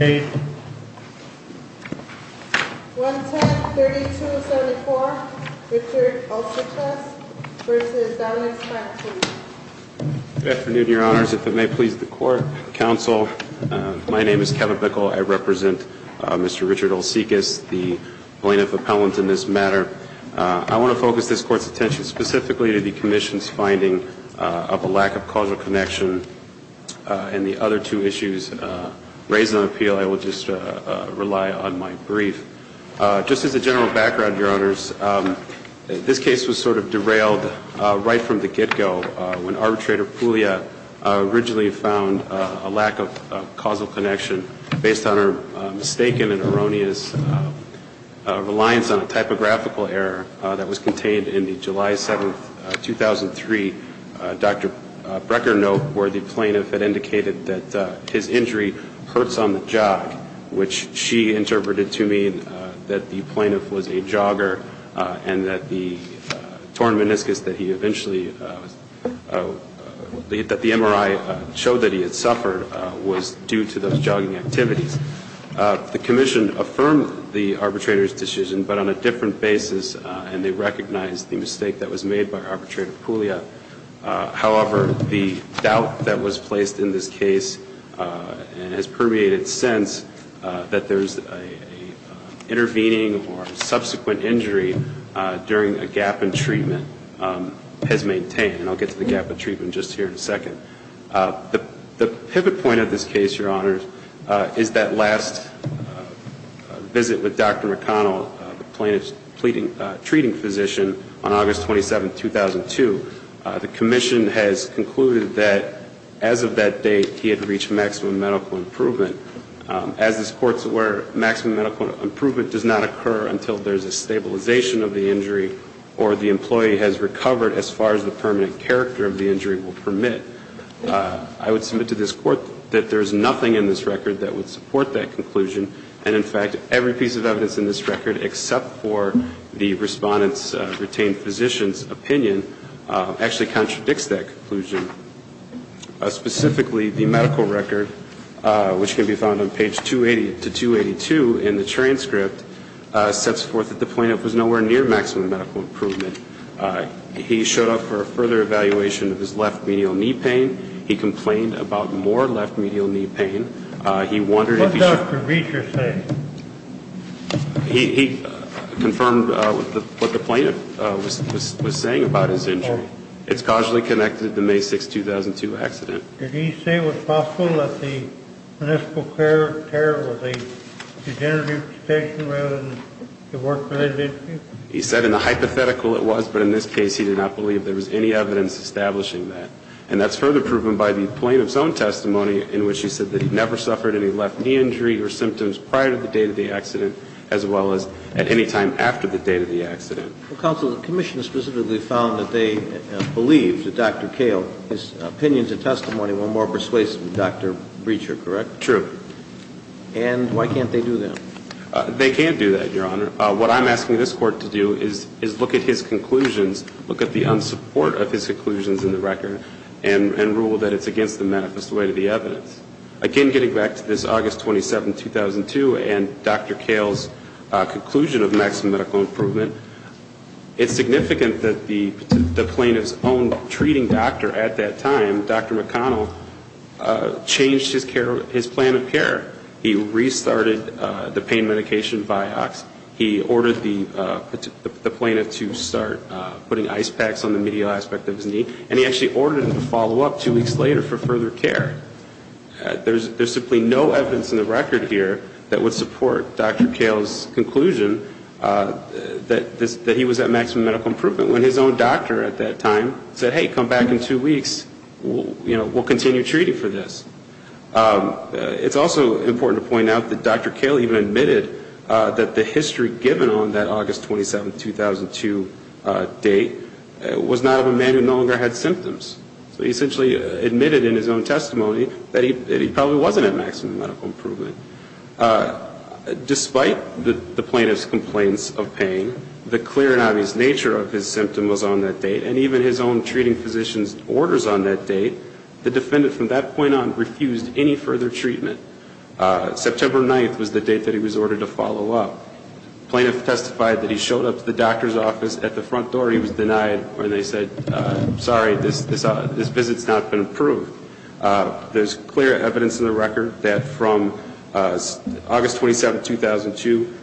110-3274, Richard Olcikas v. Dominic Spak, please. Good afternoon, Your Honors. If it may please the Court, Counsel, my name is Kevin Bickel. I represent Mr. Richard Olcikas, the plaintiff appellant in this matter. I want to focus this Court's attention specifically to the Commission's finding of a lack of causal connection and the other two issues raised in the appeal. I will just rely on my brief. Just as a general background, Your Honors, this case was sort of derailed right from the get-go when Arbitrator Puglia originally found a lack of causal connection based on her mistaken and erroneous reliance on a typographical error that was contained in the July 7, 2003 Dr. Brecker note where the plaintiff had indicated that his injury hurts on the jog, which she interpreted to mean that the plaintiff was a jogger and that the torn meniscus that he eventually, that the MRI showed that he had suffered was due to those jogging activities. The Commission affirmed the arbitrator's decision, but on a different basis, and they recognized the mistake that was made by Arbitrator Puglia. However, the doubt that was placed in this case and has permeated since that there's an intervening or subsequent injury during a gap in treatment has maintained. And I'll get to the gap in treatment just here in a second. The pivot point of this case, Your Honors, is that last visit with Dr. McConnell, the plaintiff's treating physician, on August 27, 2002. The Commission has concluded that as of that date, he had reached maximum medical improvement. As this Court's aware, maximum medical improvement does not occur until there's a stabilization of the injury or the employee has recovered as far as the permanent character of the injury will permit. I would submit to this Court that there's nothing in this record that would support that conclusion. And, in fact, every piece of evidence in this record except for the respondent's retained physician's opinion actually contradicts that conclusion. Specifically, the medical record, which can be found on page 280 to 282 in the transcript, sets forth that the plaintiff was nowhere near maximum medical improvement. He showed up for a further evaluation of his left medial knee pain. He complained about more left medial knee pain. He wondered if he should... What did Dr. Reicher say? He confirmed what the plaintiff was saying about his injury. It's causally connected to the May 6, 2002 accident. Did he say it was possible that the municipal care care was a degenerative condition rather than a work-related issue? He said in a hypothetical it was, but in this case he did not believe there was any evidence establishing that. And that's further proven by the plaintiff's own testimony in which he said that he never suffered any left knee injury or symptoms prior to the date of the accident as well as at any time after the date of the accident. Counsel, the commission specifically found that they believed that Dr. Kahle's opinions and testimony were more persuasive than Dr. Reicher, correct? True. And why can't they do that? They can do that, Your Honor. What I'm asking this Court to do is look at his conclusions, look at the unsupport of his conclusions in the record, and rule that it's against the manifest way to the evidence. Again, getting back to this August 27, 2002 and Dr. Kahle's conclusion of maximum medical improvement, it's significant that the plaintiff's own treating doctor at that time, Dr. McConnell, changed his plan of care. He restarted the pain medication, Vioxx. He ordered the plaintiff to start putting ice packs on the medial aspect of his knee, and he actually ordered him to follow up two weeks later for further care. There's simply no evidence in the record here that would support Dr. Kahle's conclusion that he was at maximum medical improvement when his own doctor at that time said, hey, come back in two weeks. We'll continue treating for this. It's also important to point out that Dr. Kahle even admitted that the history given on that August 27, 2002 date was not of a man who no longer had symptoms. So he essentially admitted in his own testimony that he probably wasn't at maximum medical improvement. Despite the plaintiff's complaints of pain, the clear and obvious nature of his symptom was on that date, and even his own treating physician's orders on that date, the defendant from that point on refused any further treatment. September 9th was the date that he was ordered to follow up. The plaintiff testified that he showed up to the doctor's office at the front door. He was denied, and they said, sorry, this visit's not been approved. There's clear evidence in the record that from August 27, 2002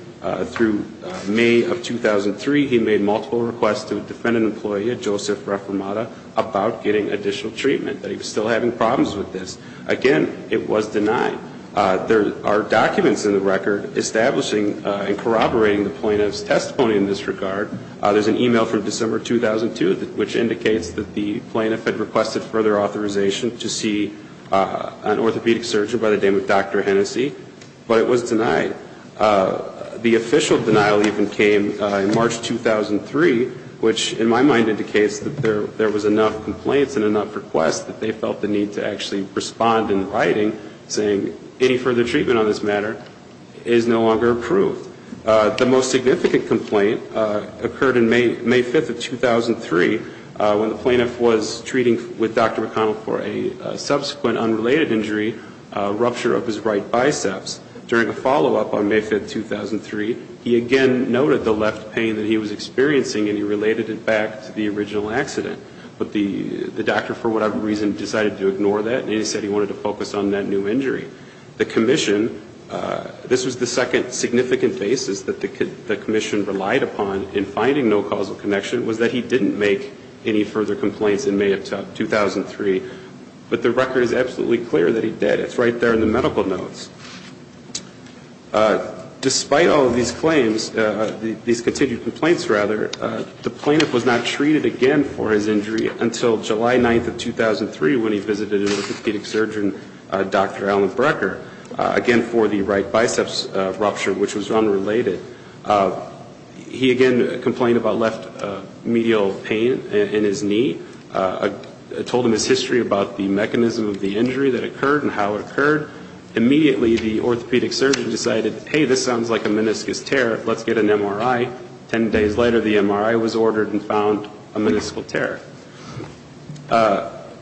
through May of 2003, he made multiple requests to a defendant employee at Joseph Reformata about getting additional treatment, that he was still having problems with this. Again, it was denied. There are documents in the record establishing and corroborating the plaintiff's testimony in this regard. There's an e-mail from December 2002 which indicates that the plaintiff had requested further authorization to see an orthopedic surgeon by the name of Dr. Hennessy, but it was denied. The official denial even came in March 2003, which in my mind indicates that there was enough complaints and enough requests that they felt the need to actually respond in writing, saying any further treatment on this matter is no longer approved. The most significant complaint occurred in May 5th of 2003 when the plaintiff was treating with Dr. McConnell for a subsequent unrelated injury, rupture of his right biceps. During a follow-up on May 5th, 2003, he again noted the left pain that he was experiencing, and he related it back to the original accident. But the doctor, for whatever reason, decided to ignore that, and he said he wanted to focus on that new injury. The commission, this was the second significant basis that the commission relied upon in finding no causal connection, was that he didn't make any further complaints in May of 2003. But the record is absolutely clear that he did. It's right there in the medical notes. Despite all of these claims, these continued complaints, rather, the plaintiff was not treated again for his injury until July 9th of 2003 when he visited an orthopedic surgeon, Dr. Alan Brecker, again for the right biceps rupture, which was unrelated. He again complained about left medial pain in his knee. I told him his history about the mechanism of the injury that occurred and how it occurred. Immediately, the orthopedic surgeon decided, hey, this sounds like a meniscus tear. Let's get an MRI. Ten days later, the MRI was ordered and found a meniscal tear.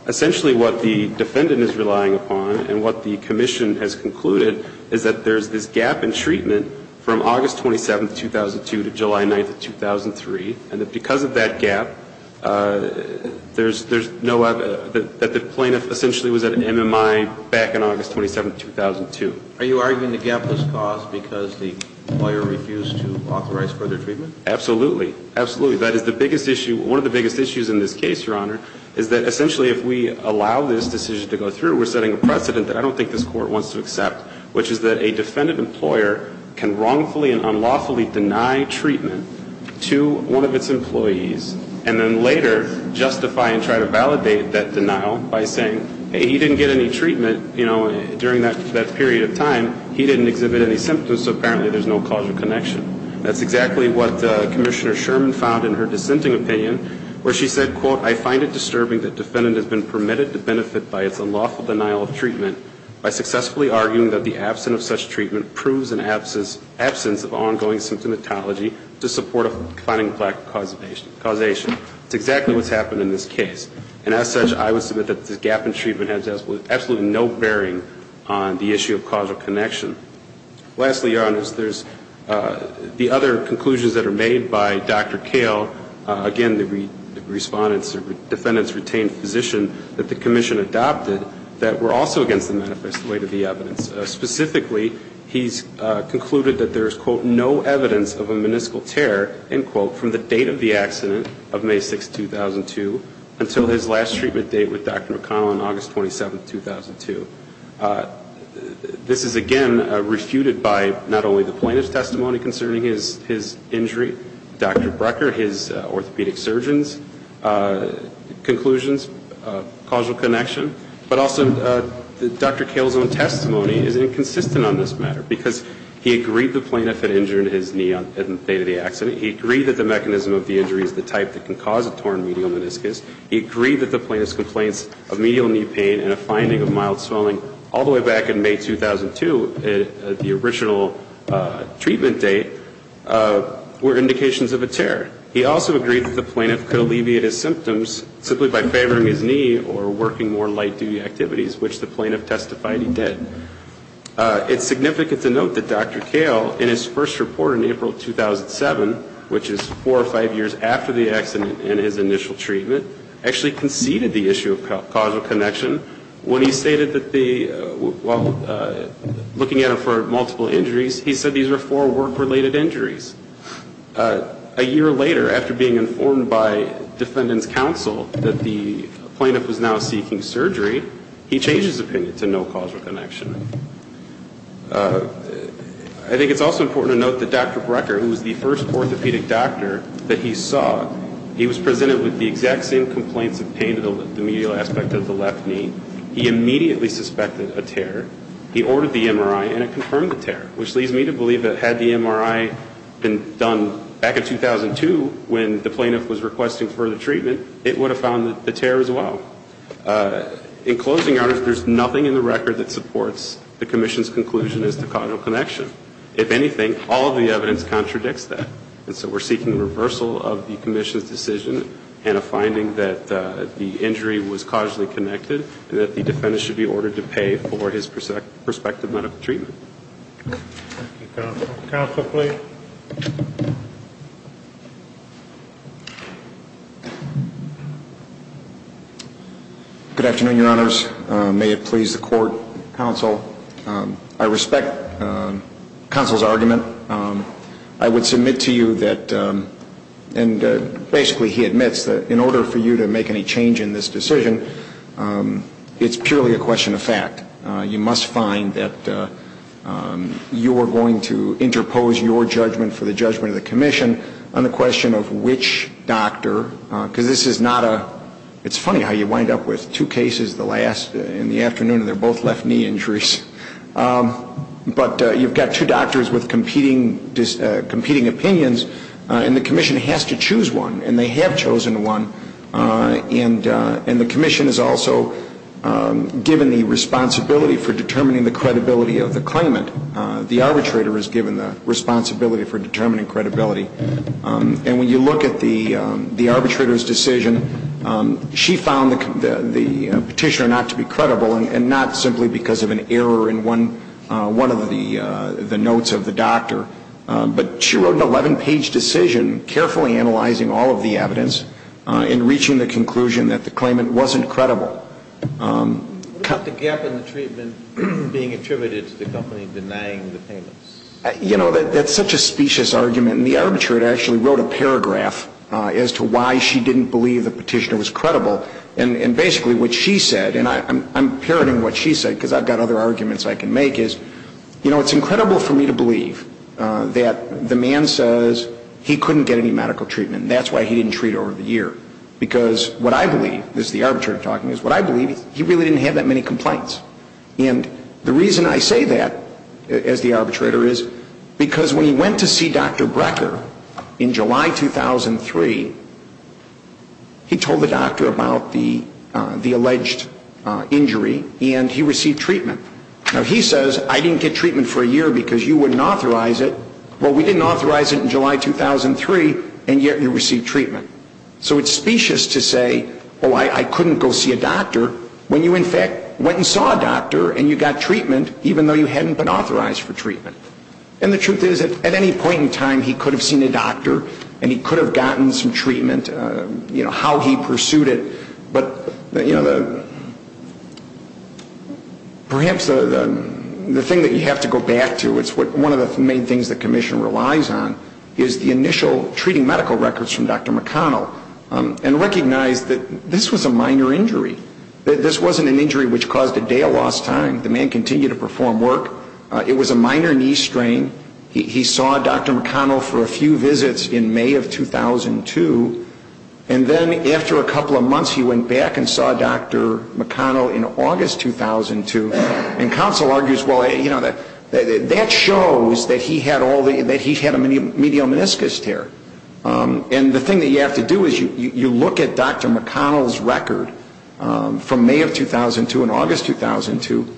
Essentially, what the defendant is relying upon and what the commission has concluded is that there's this gap in treatment from August 27th, 2002, to July 9th of 2003, and that because of that gap, there's no evidence that the plaintiff essentially was at an MMI back in August 27th, 2002. Are you arguing the gap has caused because the lawyer refused to authorize further treatment? Absolutely. Absolutely. That is the biggest issue. One of the biggest issues in this case, Your Honor, is that essentially if we allow this decision to go through, we're setting a precedent that I don't think this Court wants to accept, which is that a defendant employer can wrongfully and unlawfully deny treatment to one of its employees and then later justify and try to validate that denial by saying, hey, he didn't get any treatment, you know, during that period of time. He didn't exhibit any symptoms, so apparently there's no causal connection. That's exactly what Commissioner Sherman found in her dissenting opinion where she said, quote, I find it disturbing that defendant has been permitted to benefit by its unlawful denial of treatment by successfully arguing that the absence of such treatment proves an absence of ongoing symptomatology to support a finding plaque causation. That's exactly what's happened in this case. And as such, I would submit that this gap in treatment has absolutely no bearing on the issue of causal connection. Lastly, Your Honors, there's the other conclusions that are made by Dr. Kale, again, the respondent's retained physician that the Commission adopted that were also against the manifesto weight of the evidence. Specifically, he's concluded that there's, quote, no evidence of a meniscal tear, end quote, from the date of the accident of May 6, 2002 until his last treatment date with Dr. McConnell on August 27, 2002. This is, again, refuted by not only the plaintiff's testimony concerning his injury, Dr. Brecker, his orthopedic surgeon's conclusions, causal connection, but also Dr. Kale's own testimony is inconsistent on this matter, because he agreed the plaintiff had injured his knee on the date of the accident. He agreed that the mechanism of the injury is the type that can cause a torn medial meniscus. He agreed that the plaintiff's complaints of medial knee pain and a finding of mild swelling all the way back in May 2002, the original treatment date, were indications of a tear. He also agreed that the plaintiff could alleviate his symptoms simply by favoring his knee or working more light duty activities, which the plaintiff testified he did. It's significant to note that Dr. Kale, in his first report in April 2007, which is four or five years after the accident and his initial treatment, actually conceded the issue of causal connection when he stated that the, while looking at him for multiple injuries, he said these were four work-related injuries. A year later, after being informed by defendant's counsel that the plaintiff was now seeking surgery, he changed his opinion to no causal connection. I think it's also important to note that Dr. Brecker, who was the first orthopedic doctor that he saw, he was presented with the exact same complaints of pain to the medial aspect of the left knee. He immediately suspected a tear. He ordered the MRI, and it confirmed the tear, which leads me to believe that had the MRI been done back in 2002, when the plaintiff was requesting further treatment, it would have found the tear as well. In closing, there's nothing in the record that supports the commission's conclusion as to causal connection. If anything, all of the evidence contradicts that. And so we're seeking a reversal of the commission's decision and a finding that the injury was causally connected and that the defendant should be ordered to pay for his prospective medical treatment. Counsel, please. Good afternoon, Your Honors. May it please the court, counsel. I respect counsel's argument. I would submit to you that, and basically he admits that in order for you to make any change in this decision, it's purely a question of fact. You must find that you are going to interpose your judgment for the judgment of the commission on the question of which doctor, because this is not a, it's funny how you wind up with two cases in the afternoon, and they're both left knee injuries. But you've got two doctors with competing opinions, and the commission has to choose one, and they have chosen one. And the commission is also given the responsibility for determining the credibility of the claimant. The arbitrator is given the responsibility for determining credibility. And when you look at the arbitrator's decision, she found the petitioner not to be credible, and not simply because of an error in one of the notes of the doctor. But she wrote an 11-page decision carefully analyzing all of the evidence and reaching the conclusion that the claimant wasn't credible. What about the gap in the treatment being attributed to the company denying the payments? You know, that's such a specious argument. And the arbitrator actually wrote a paragraph as to why she didn't believe the petitioner was credible. And basically what she said, and I'm parroting what she said because I've got other arguments I can make, is, you know, it's incredible for me to believe that the man says he couldn't get any medical treatment, and that's why he didn't treat over the year. Because what I believe, this is the arbitrator talking, is what I believe is he really didn't have that many complaints. And the reason I say that as the arbitrator is because when he went to see Dr. Brecker in July 2003, he told the doctor about the alleged injury, and he received treatment. Now, he says, I didn't get treatment for a year because you wouldn't authorize it. Well, we didn't authorize it in July 2003, and yet you received treatment. So it's specious to say, oh, I couldn't go see a doctor when you, in fact, went and saw a doctor and you got treatment even though you hadn't been authorized for treatment. And the truth is, at any point in time, he could have seen a doctor and he could have gotten some treatment, you know, how he pursued it. But, you know, perhaps the thing that you have to go back to, it's one of the main things the commission relies on, is the initial treating medical records from Dr. McConnell and recognize that this was a minor injury. This wasn't an injury which caused a day of lost time. The man continued to perform work. It was a minor knee strain. He saw Dr. McConnell for a few visits in May of 2002, and then after a couple of months he went back and saw Dr. McConnell in August 2002. And counsel argues, well, you know, that shows that he had a medial meniscus tear. And the thing that you have to do is you look at Dr. McConnell's record from May of 2002 and August 2002,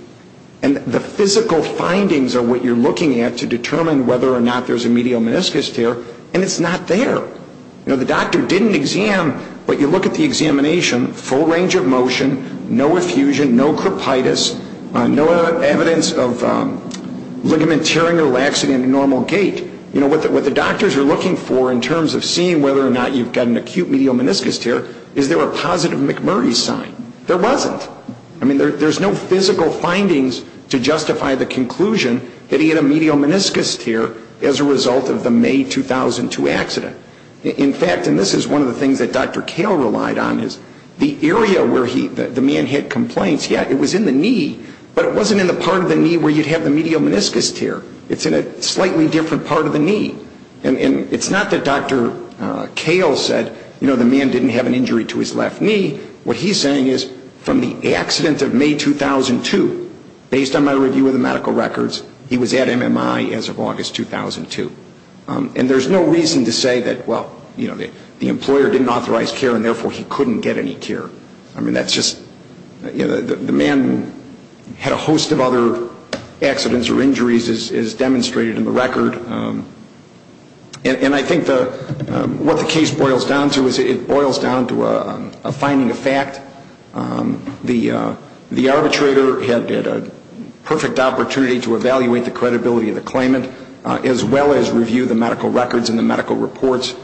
and the physical findings are what you're looking at to determine whether or not there's a medial meniscus tear, and it's not there. You know, the doctor didn't exam, but you look at the examination, full range of motion, no effusion, no crepitus, no evidence of ligament tearing or laxity in a normal gait. You know, what the doctors are looking for in terms of seeing whether or not you've got an acute medial meniscus tear is there a positive McMurray sign. There wasn't. I mean, there's no physical findings to justify the conclusion that he had a medial meniscus tear as a result of the May 2002 accident. In fact, and this is one of the things that Dr. Kale relied on, is the area where the man had complaints, yeah, it was in the knee, but it wasn't in the part of the knee where you'd have the medial meniscus tear. It's in a slightly different part of the knee. And it's not that Dr. Kale said, you know, the man didn't have an injury to his left knee. What he's saying is from the accident of May 2002, based on my review of the medical records, he was at MMI as of August 2002. And there's no reason to say that, well, you know, the employer didn't authorize care and therefore he couldn't get any care. I mean, that's just, you know, the man had a host of other accidents or injuries as demonstrated in the record. And I think what the case boils down to is it boils down to a finding of fact. The arbitrator had a perfect opportunity to evaluate the credibility of the claimant as well as review the medical records and the medical reports.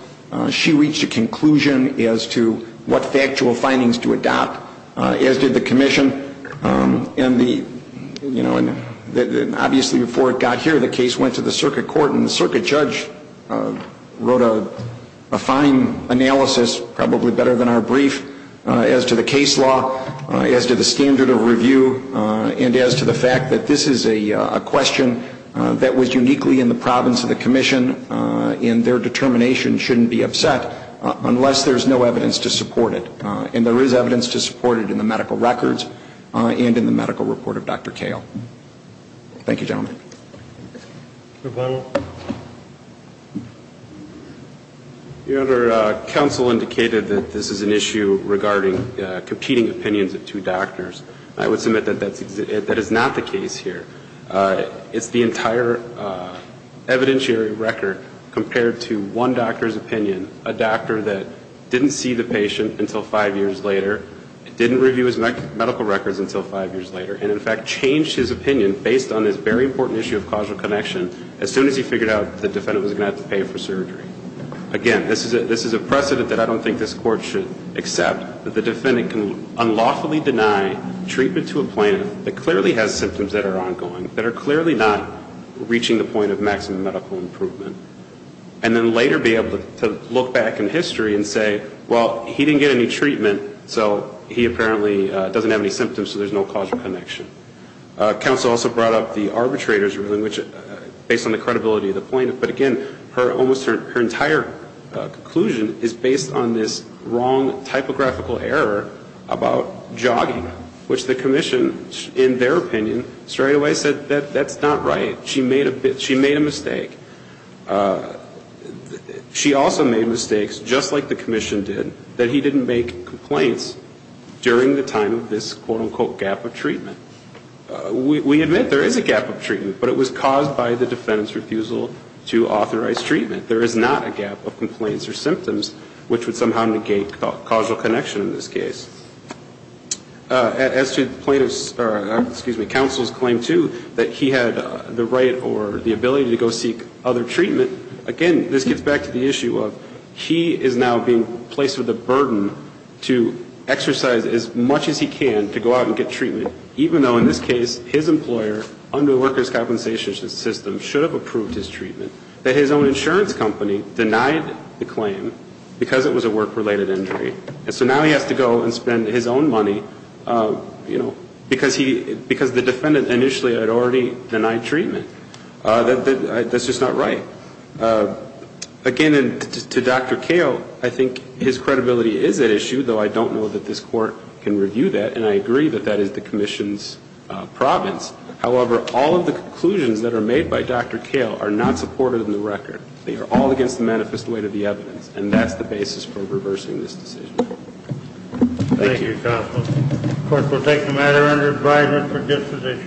She reached a conclusion as to what factual findings to adopt, as did the commission. And the, you know, obviously before it got here, the case went to the circuit court and the circuit judge wrote a fine analysis, probably better than our brief, as to the case law, as to the standard of review, and as to the fact that this is a question that was uniquely in the province of the commission and their determination shouldn't be upset unless there's no evidence to support it. And there is evidence to support it in the medical records and in the medical report of Dr. Kale. Thank you, gentlemen. Your Honor, counsel indicated that this is an issue regarding competing opinions of two doctors. I would submit that that is not the case here. It's the entire evidentiary record compared to one doctor's opinion, a doctor that didn't see the patient until five years later, didn't review his medical records until five years later, and in fact changed his opinion based on this very important issue of causal connection as soon as he figured out the defendant was going to have to pay for surgery. Again, this is a precedent that I don't think this Court should accept, that the defendant can unlawfully deny treatment to a plaintiff that clearly has symptoms that are ongoing, that are clearly not reaching the point of maximum medical improvement, and then later be able to look back in history and say, well, he didn't get any treatment, so he apparently doesn't have any symptoms, so there's no causal connection. Counsel also brought up the arbitrator's ruling, which, based on the credibility of the plaintiff, but again, almost her entire conclusion is based on this wrong typographical error about jogging, which the commission, in their opinion, straightaway said that that's not right. She made a mistake. She also made mistakes, just like the commission did, that he didn't make complaints during the time of this, quote-unquote, gap of treatment. We admit there is a gap of treatment, but it was caused by the defendant's refusal to authorize treatment. There is not a gap of complaints or symptoms, which would somehow negate causal connection in this case. As to counsel's claim, too, that he had the right or the ability to go seek other treatment, again, this gets back to the issue of he is now being placed with a burden to exercise as much as he can to go out and get treatment, even though, in this case, his employer, under the workers' compensation system, should have approved his treatment, that his own insurance company denied the claim because it was a work-related injury. And so now he has to go and spend his own money, you know, because the defendant initially had already denied treatment. That's just not right. Again, to Dr. Kale, I think his credibility is at issue, though I don't know that this Court can review that, and I agree that that is the commission's province. However, all of the conclusions that are made by Dr. Kale are not supported in the record. They are all against the manifest weight of the evidence, and that's the basis for reversing this decision. Thank you. Thank you, counsel. Of course, we'll take the matter under advisement for disposition.